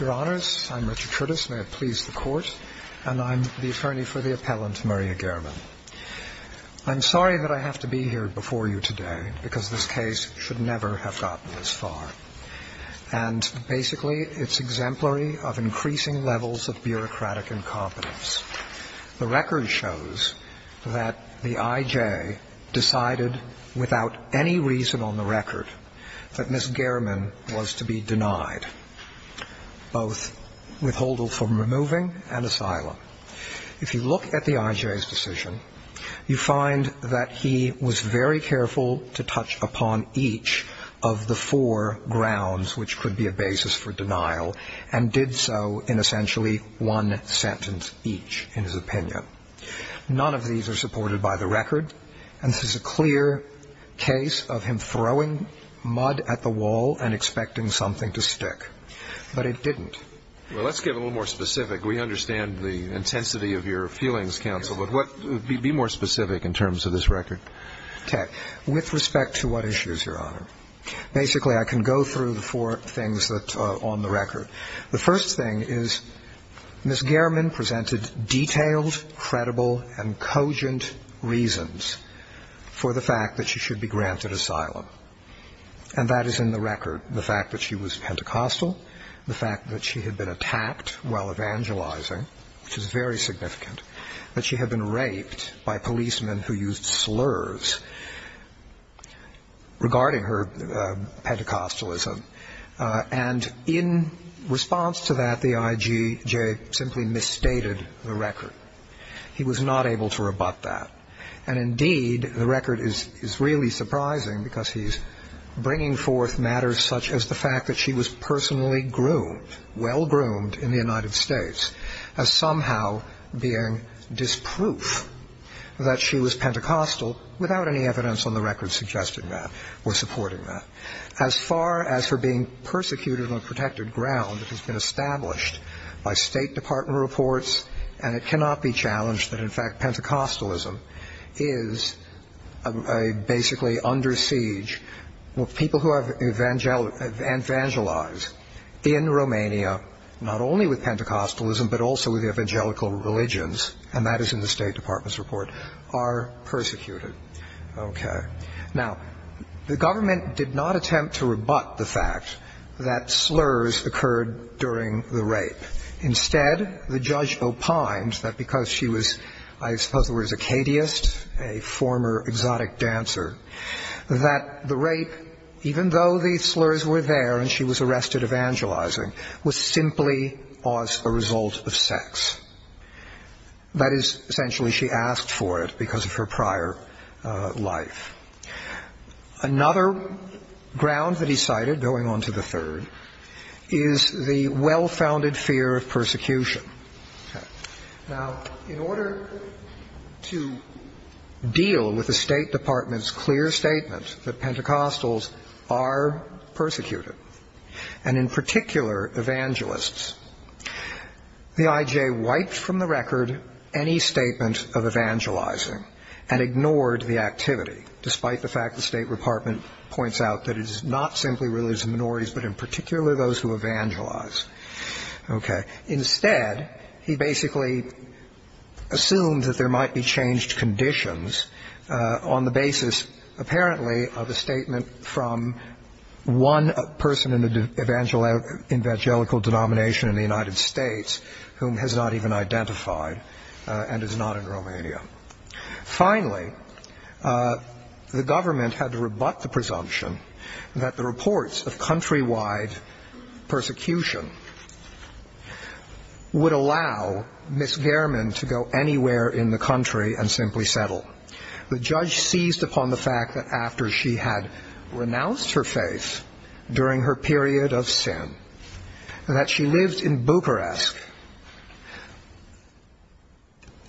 Your Honors, I'm Richard Trudis. May it please the Court. And I'm the attorney for the appellant, Maria Gherman. I'm sorry that I have to be here before you today, because this case should never have gotten this far. And basically, it's exemplary of increasing levels of bureaucratic incompetence. The record shows that the I.J. decided without any reason on the record that Ms. Gherman was to be denied both withholdal from removing and asylum. If you look at the I.J.'s decision, you find that he was very careful to touch upon each of the four grounds which could be a basis for denial, and did so in essentially one sentence each, in his opinion. None of these are supported by the record, and this is a clear case of him throwing mud at the wall and expecting something to stick. But it didn't. Well, let's get a little more specific. We understand the intensity of your feelings, counsel, but be more specific in terms of this record. Okay. With respect to what issues, Your Honor, basically I can go through the four things on the record. The first thing is Ms. Gherman presented detailed, credible, and cogent reasons for the fact that she should be granted asylum. And that is in the record, the fact that she was Pentecostal, the fact that she had been attacked while evangelizing, which is very significant, that she had been raped by policemen who used slurs regarding her Pentecostalism. And in response to that, the I.J. simply misstated the record. He was not able to rebut that. And indeed, the record is really surprising because he's bringing forth matters such as the fact that she was personally groomed, well-groomed in the United States, as somehow being disproof that she was Pentecostal, without any evidence on the record suggesting that or supporting that. As far as her being persecuted on protected ground, it has been established by State Department reports, and it cannot be challenged that, in fact, Pentecostalism is basically under siege. People who have evangelized in Romania, not only with Pentecostalism, but also with evangelical religions, and that is in the State Department's report, are persecuted. Okay. Now, the government did not attempt to rebut the fact that slurs occurred during the rape. Instead, the judge opined that because she was, I suppose the word is a cadius, a former exotic dancer, that the rape, even though the slurs were there and she was arrested evangelizing, was simply a result of sex. That is, essentially, she asked for it because of her prior life. Another ground that he cited, going on to the third, is the well-founded fear of persecution. Now, in order to deal with the State Department's clear statement that Pentecostals are persecuted, and in particular evangelists, the IJ wiped from the record any statement of evangelizing and ignored the activity, despite the fact the State Department points out that it is not simply religious minorities, but in particular those who evangelize. Okay. Instead, he basically assumed that there might be changed conditions on the basis, apparently, of a statement from one person in the evangelical denomination in the United States whom has not even identified and is not in Romania. Finally, the government had to rebut the presumption that the reports of countrywide persecution would allow Ms. Gehrman to go anywhere in the country and simply settle. The judge seized upon the fact that after she had renounced her faith during her period of sin, and that she lived in Bucharest,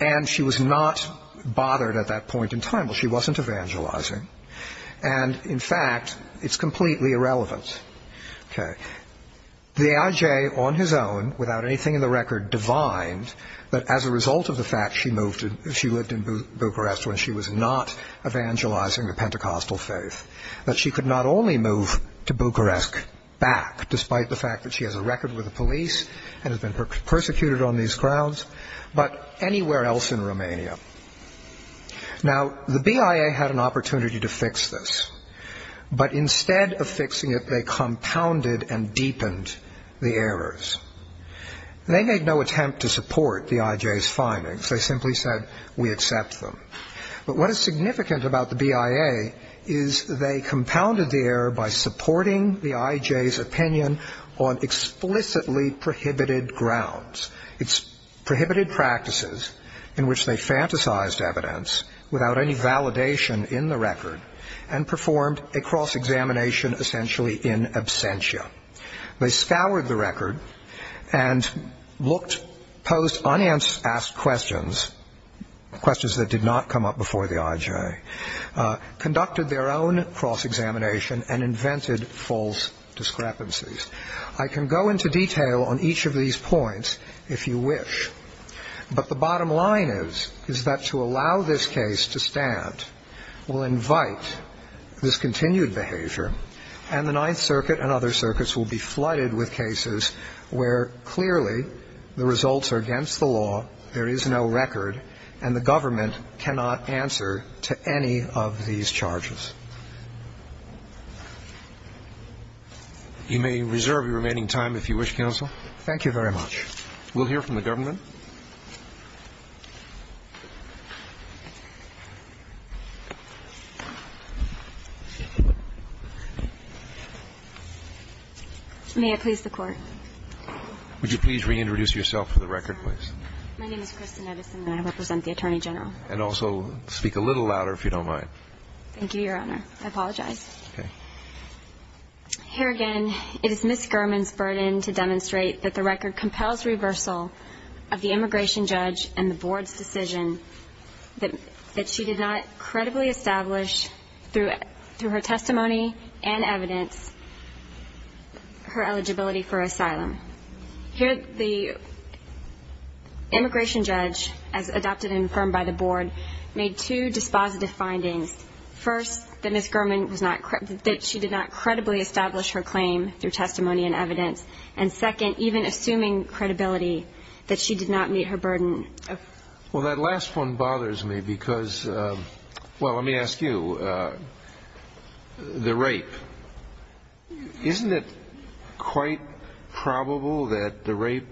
and she was not bothered at that point in time, well, she wasn't evangelizing, and in fact, it's completely irrelevant. The IJ, on his own, without anything in the record, divined that as a result of the fact she lived in Bucharest when she was not evangelizing the Pentecostal faith, that she could not only move to Bucharest back, despite the fact that she has a record with the police and has been persecuted on these grounds, but anywhere else in Romania. Now, the BIA had an opportunity to fix this, but instead of fixing it, they compounded and deepened the errors. They made no attempt to support the IJ's findings. They simply said, we accept them. But what is significant about the BIA is they compounded the error by supporting the IJ's opinion on explicitly prohibited grounds. It's prohibited practices in which they fantasized evidence without any validation in the record and performed a cross-examination essentially in absentia. They scoured the record and posed unanswered questions, questions that did not come up before the IJ, conducted their own cross-examination, and invented false discrepancies. I can go into detail on each of these points if you wish, but the bottom line is that to allow this case to stand will invite this continued behavior and the Ninth Circuit and other circuits will be flooded with cases where clearly the results are against the law, there is no record, and the government cannot answer to any of these charges. You may reserve your remaining time if you wish, counsel. Thank you very much. We'll hear from the government. Thank you. May I please the Court? Would you please reintroduce yourself for the record, please? My name is Kristen Edison and I represent the Attorney General. And also speak a little louder if you don't mind. Thank you, Your Honor. I apologize. Okay. Here again, it is Ms. Gurman's burden to demonstrate that the record compels reversal of the immigration judge and the Board's decision that she did not credibly establish through her testimony and evidence her eligibility for asylum. Here the immigration judge, as adopted and affirmed by the Board, made two dispositive findings. First, that she did not credibly establish her claim through testimony and evidence. And second, even assuming credibility, that she did not meet her burden. Well, that last one bothers me because, well, let me ask you. The rape. Isn't it quite probable that the rape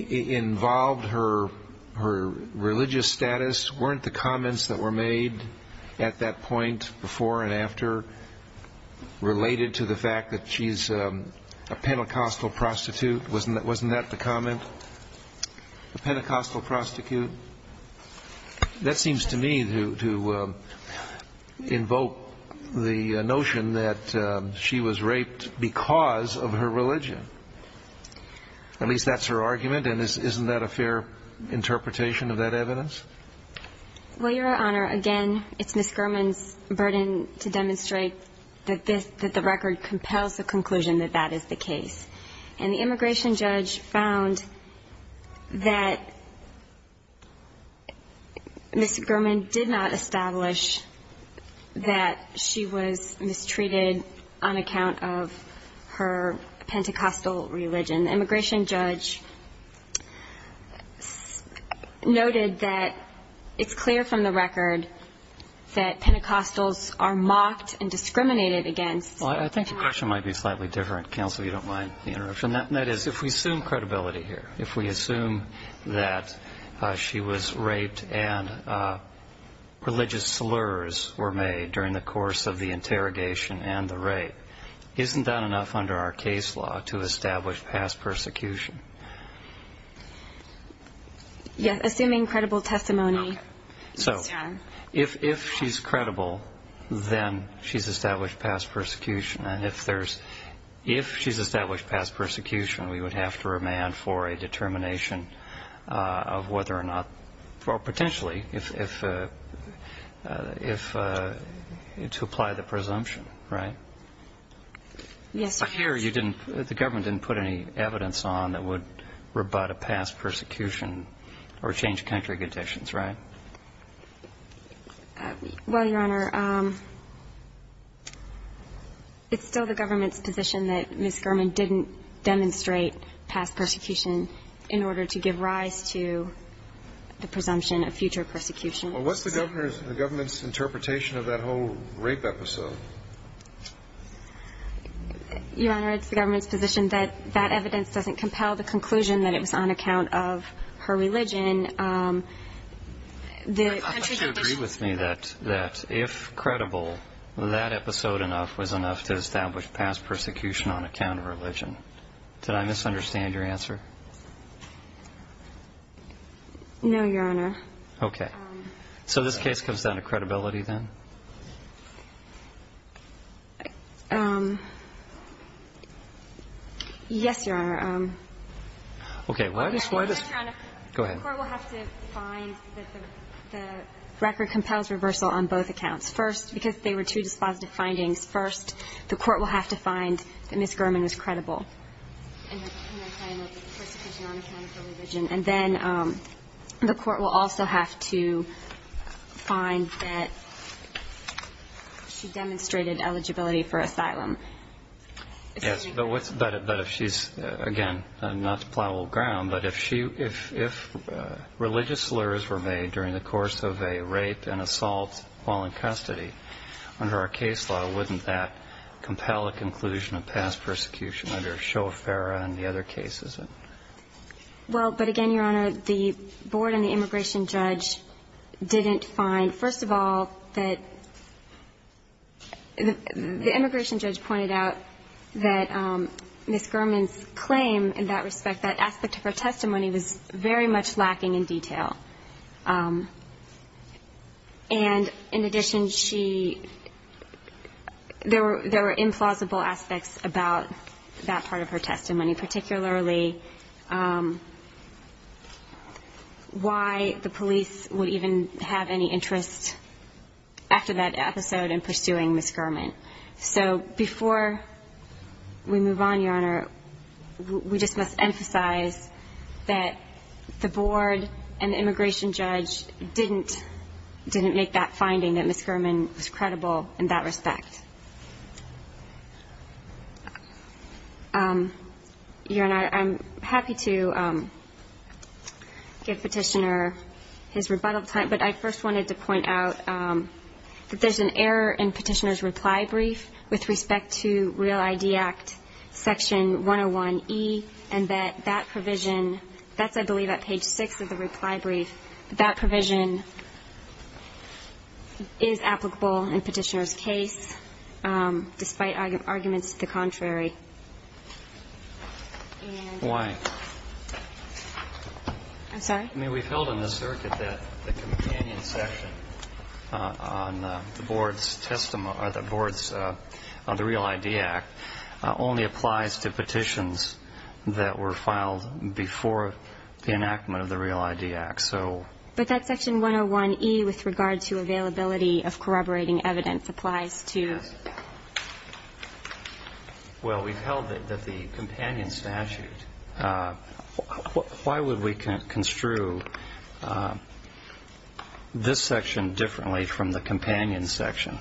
involved her religious status? Weren't the comments that were made at that point before and after related to the fact that she's a Pentecostal prostitute? Wasn't that the comment? A Pentecostal prostitute? That seems to me to invoke the notion that she was raped because of her religion. At least that's her argument, and isn't that a fair interpretation of that evidence? Well, Your Honor, again, it's Ms. Gurman's burden to demonstrate that the record compels the conclusion that that is the case. And the immigration judge found that Ms. Gurman did not establish that she was mistreated on account of her Pentecostal religion. The immigration judge noted that it's clear from the record that Pentecostals are mocked and discriminated against. Well, I think the question might be slightly different. Counsel, if you don't mind the interruption. That is, if we assume credibility here, if we assume that she was raped and religious slurs were made during the course of the interrogation and the rape, isn't that enough under our case law to establish past persecution? Yes, assuming credible testimony. So if she's credible, then she's established past persecution. And if she's established past persecution, we would have to remand for a determination of whether or not, or potentially, to apply the presumption, right? Yes, Your Honor. I'm sure you didn't, the government didn't put any evidence on that would rebut a past persecution or change country conditions, right? Well, Your Honor, it's still the government's position that Ms. Gurman didn't demonstrate past persecution in order to give rise to the presumption of future persecution. Well, what's the government's interpretation of that whole rape episode? Your Honor, it's the government's position that that evidence doesn't compel the conclusion that it was on account of her religion. I thought you agreed with me that if credible, that episode enough was enough to establish past persecution on account of religion. Did I misunderstand your answer? No, Your Honor. Okay. So this case comes down to credibility then? Yes, Your Honor. Okay. Why does, why does, go ahead. The Court will have to find that the record compels reversal on both accounts. First, because they were two dispositive findings. First, the Court will have to find that Ms. Gurman was credible in her claim of persecution on account of her religion. And then the Court will also have to find that she demonstrated eligibility for asylum. Yes, but if she's, again, not to plow old ground, but if religious slurs were made during the course of a rape and assault while in custody, under our case law, wouldn't that compel a conclusion of past persecution under Shofara and the other cases? Well, but again, Your Honor, the board and the immigration judge didn't find. First of all, the immigration judge pointed out that Ms. Gurman's claim in that respect, that aspect of her testimony, was very much lacking in detail. And in addition, she, there were implausible aspects about that part of her testimony, particularly why the police would even have any interest after that episode in pursuing Ms. Gurman. So before we move on, Your Honor, we just must emphasize that the board and the immigration judge didn't make that finding, that Ms. Gurman was credible in that respect. Your Honor, I'm happy to give Petitioner his rebuttal time, but I first wanted to point out that there's an error in Petitioner's reply brief with respect to REAL ID Act Section 101E, and that that provision, that's I believe at page 6 of the reply brief, that provision is applicable in Petitioner's case, despite arguments to the contrary. Why? I'm sorry? I mean, we've held in the circuit that the companion section on the board's testimony, or the board's, on the REAL ID Act, only applies to petitions that were filed before the enactment of the REAL ID Act. But that Section 101E, with regard to availability of corroborating evidence, applies to? It does. Well, we've held that the companion statute, why would we construe this section differently from the companion section?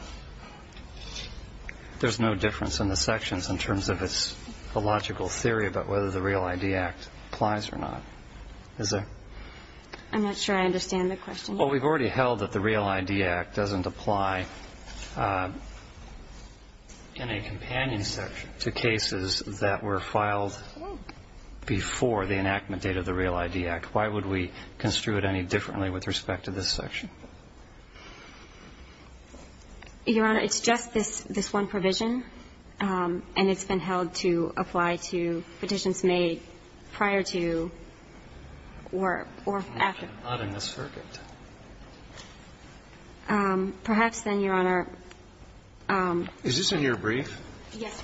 There's no difference in the sections in terms of the logical theory about whether the REAL ID Act applies or not, is there? I'm not sure I understand the question. Well, we've already held that the REAL ID Act doesn't apply in a companion section to cases that were filed before the enactment date of the REAL ID Act. Why would we construe it any differently with respect to this section? Your Honor, it's just this one provision, and it's been held to apply to petitions made prior to or after. I'm not in this circuit. Perhaps then, Your Honor. Is this in your brief? Yes.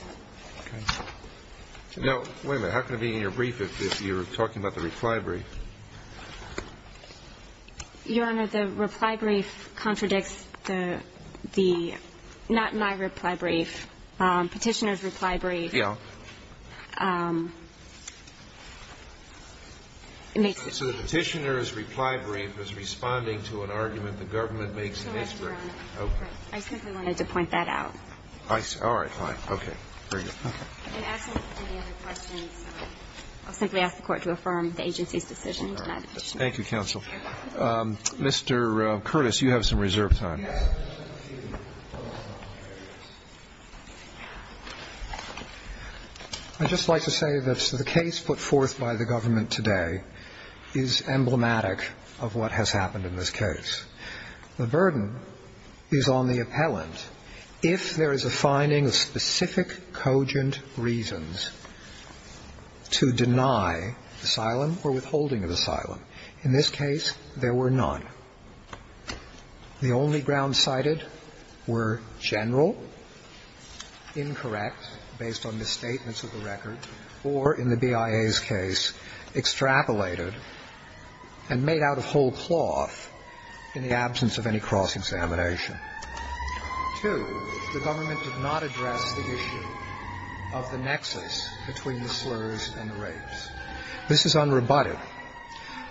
Okay. Now, wait a minute. How can it be in your brief if you're talking about the reply brief? Your Honor, the reply brief contradicts the not my reply brief, Petitioner's reply brief. Yeah. So the Petitioner's reply brief is responding to an argument the government makes in this brief. Okay. I simply wanted to point that out. All right. Fine. Okay. Very good. I'll simply ask the Court to affirm the agency's decision to deny the Petitioner's reply brief. Thank you, counsel. Mr. Curtis, you have some reserved time. I just like to say that the case put forth by the government today is emblematic of what has happened in this case. The burden is on the appellant if there is a finding of specific cogent reasons to deny asylum or withholding of asylum. In this case, there were none. The only grounds cited were general, incorrect based on misstatements of the record, or in the BIA's case, extrapolated and made out of whole cloth in the absence of any cross-examination. Two, the government did not address the issue of the nexus between the slurs and the rapes. This is unrebutted.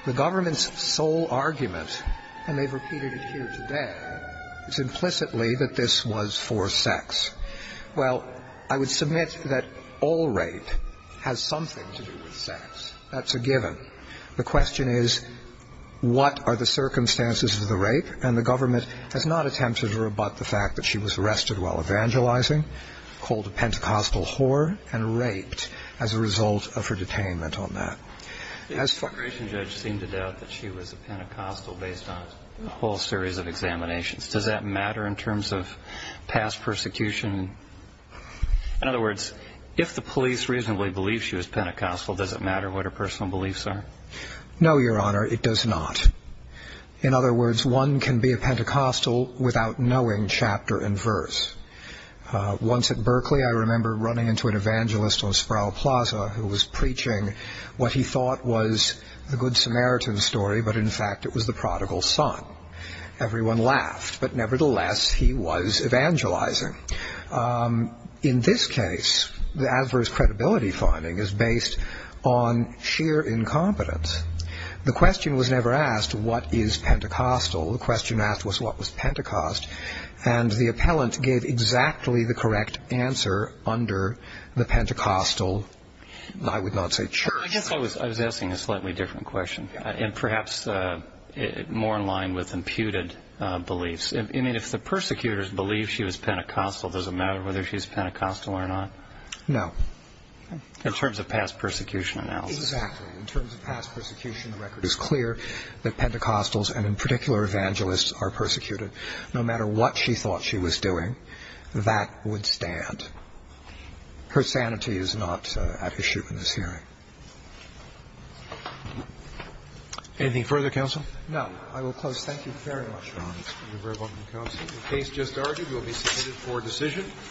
The government's sole argument, and they've repeated it here today, is implicitly that this was for sex. Well, I would submit that all rape has something to do with sex. That's a given. The question is what are the circumstances of the rape, and the government has not attempted to rebut the fact that she was arrested while evangelizing, called a Pentecostal whore, and raped as a result of her detainment on that. The immigration judge seemed to doubt that she was a Pentecostal based on a whole series of examinations. Does that matter in terms of past persecution? In other words, if the police reasonably believe she was Pentecostal, does it matter what her personal beliefs are? No, Your Honor, it does not. In other words, one can be a Pentecostal without knowing chapter and verse. Once at Berkeley, I remember running into an evangelist on Sproul Plaza who was preaching what he thought was the Good Samaritan story, but in fact it was the Prodigal Son. Everyone laughed, but nevertheless he was evangelizing. In this case, the adverse credibility finding is based on sheer incompetence. The question was never asked, what is Pentecostal? The question asked was, what was Pentecost? And the appellant gave exactly the correct answer under the Pentecostal, I would not say church. I guess I was asking a slightly different question, and perhaps more in line with imputed beliefs. I mean, if the persecutors believe she was Pentecostal, does it matter whether she was Pentecostal or not? No. In terms of past persecution analysis. Exactly. In terms of past persecution, the record is clear that Pentecostals, and in particular evangelists, are persecuted. No matter what she thought she was doing, that would stand. Her sanity is not at issue in this hearing. Anything further, counsel? No. I will close. Thank you very much, Your Honor. Thank you very much, counsel. The case just argued will be submitted for decision.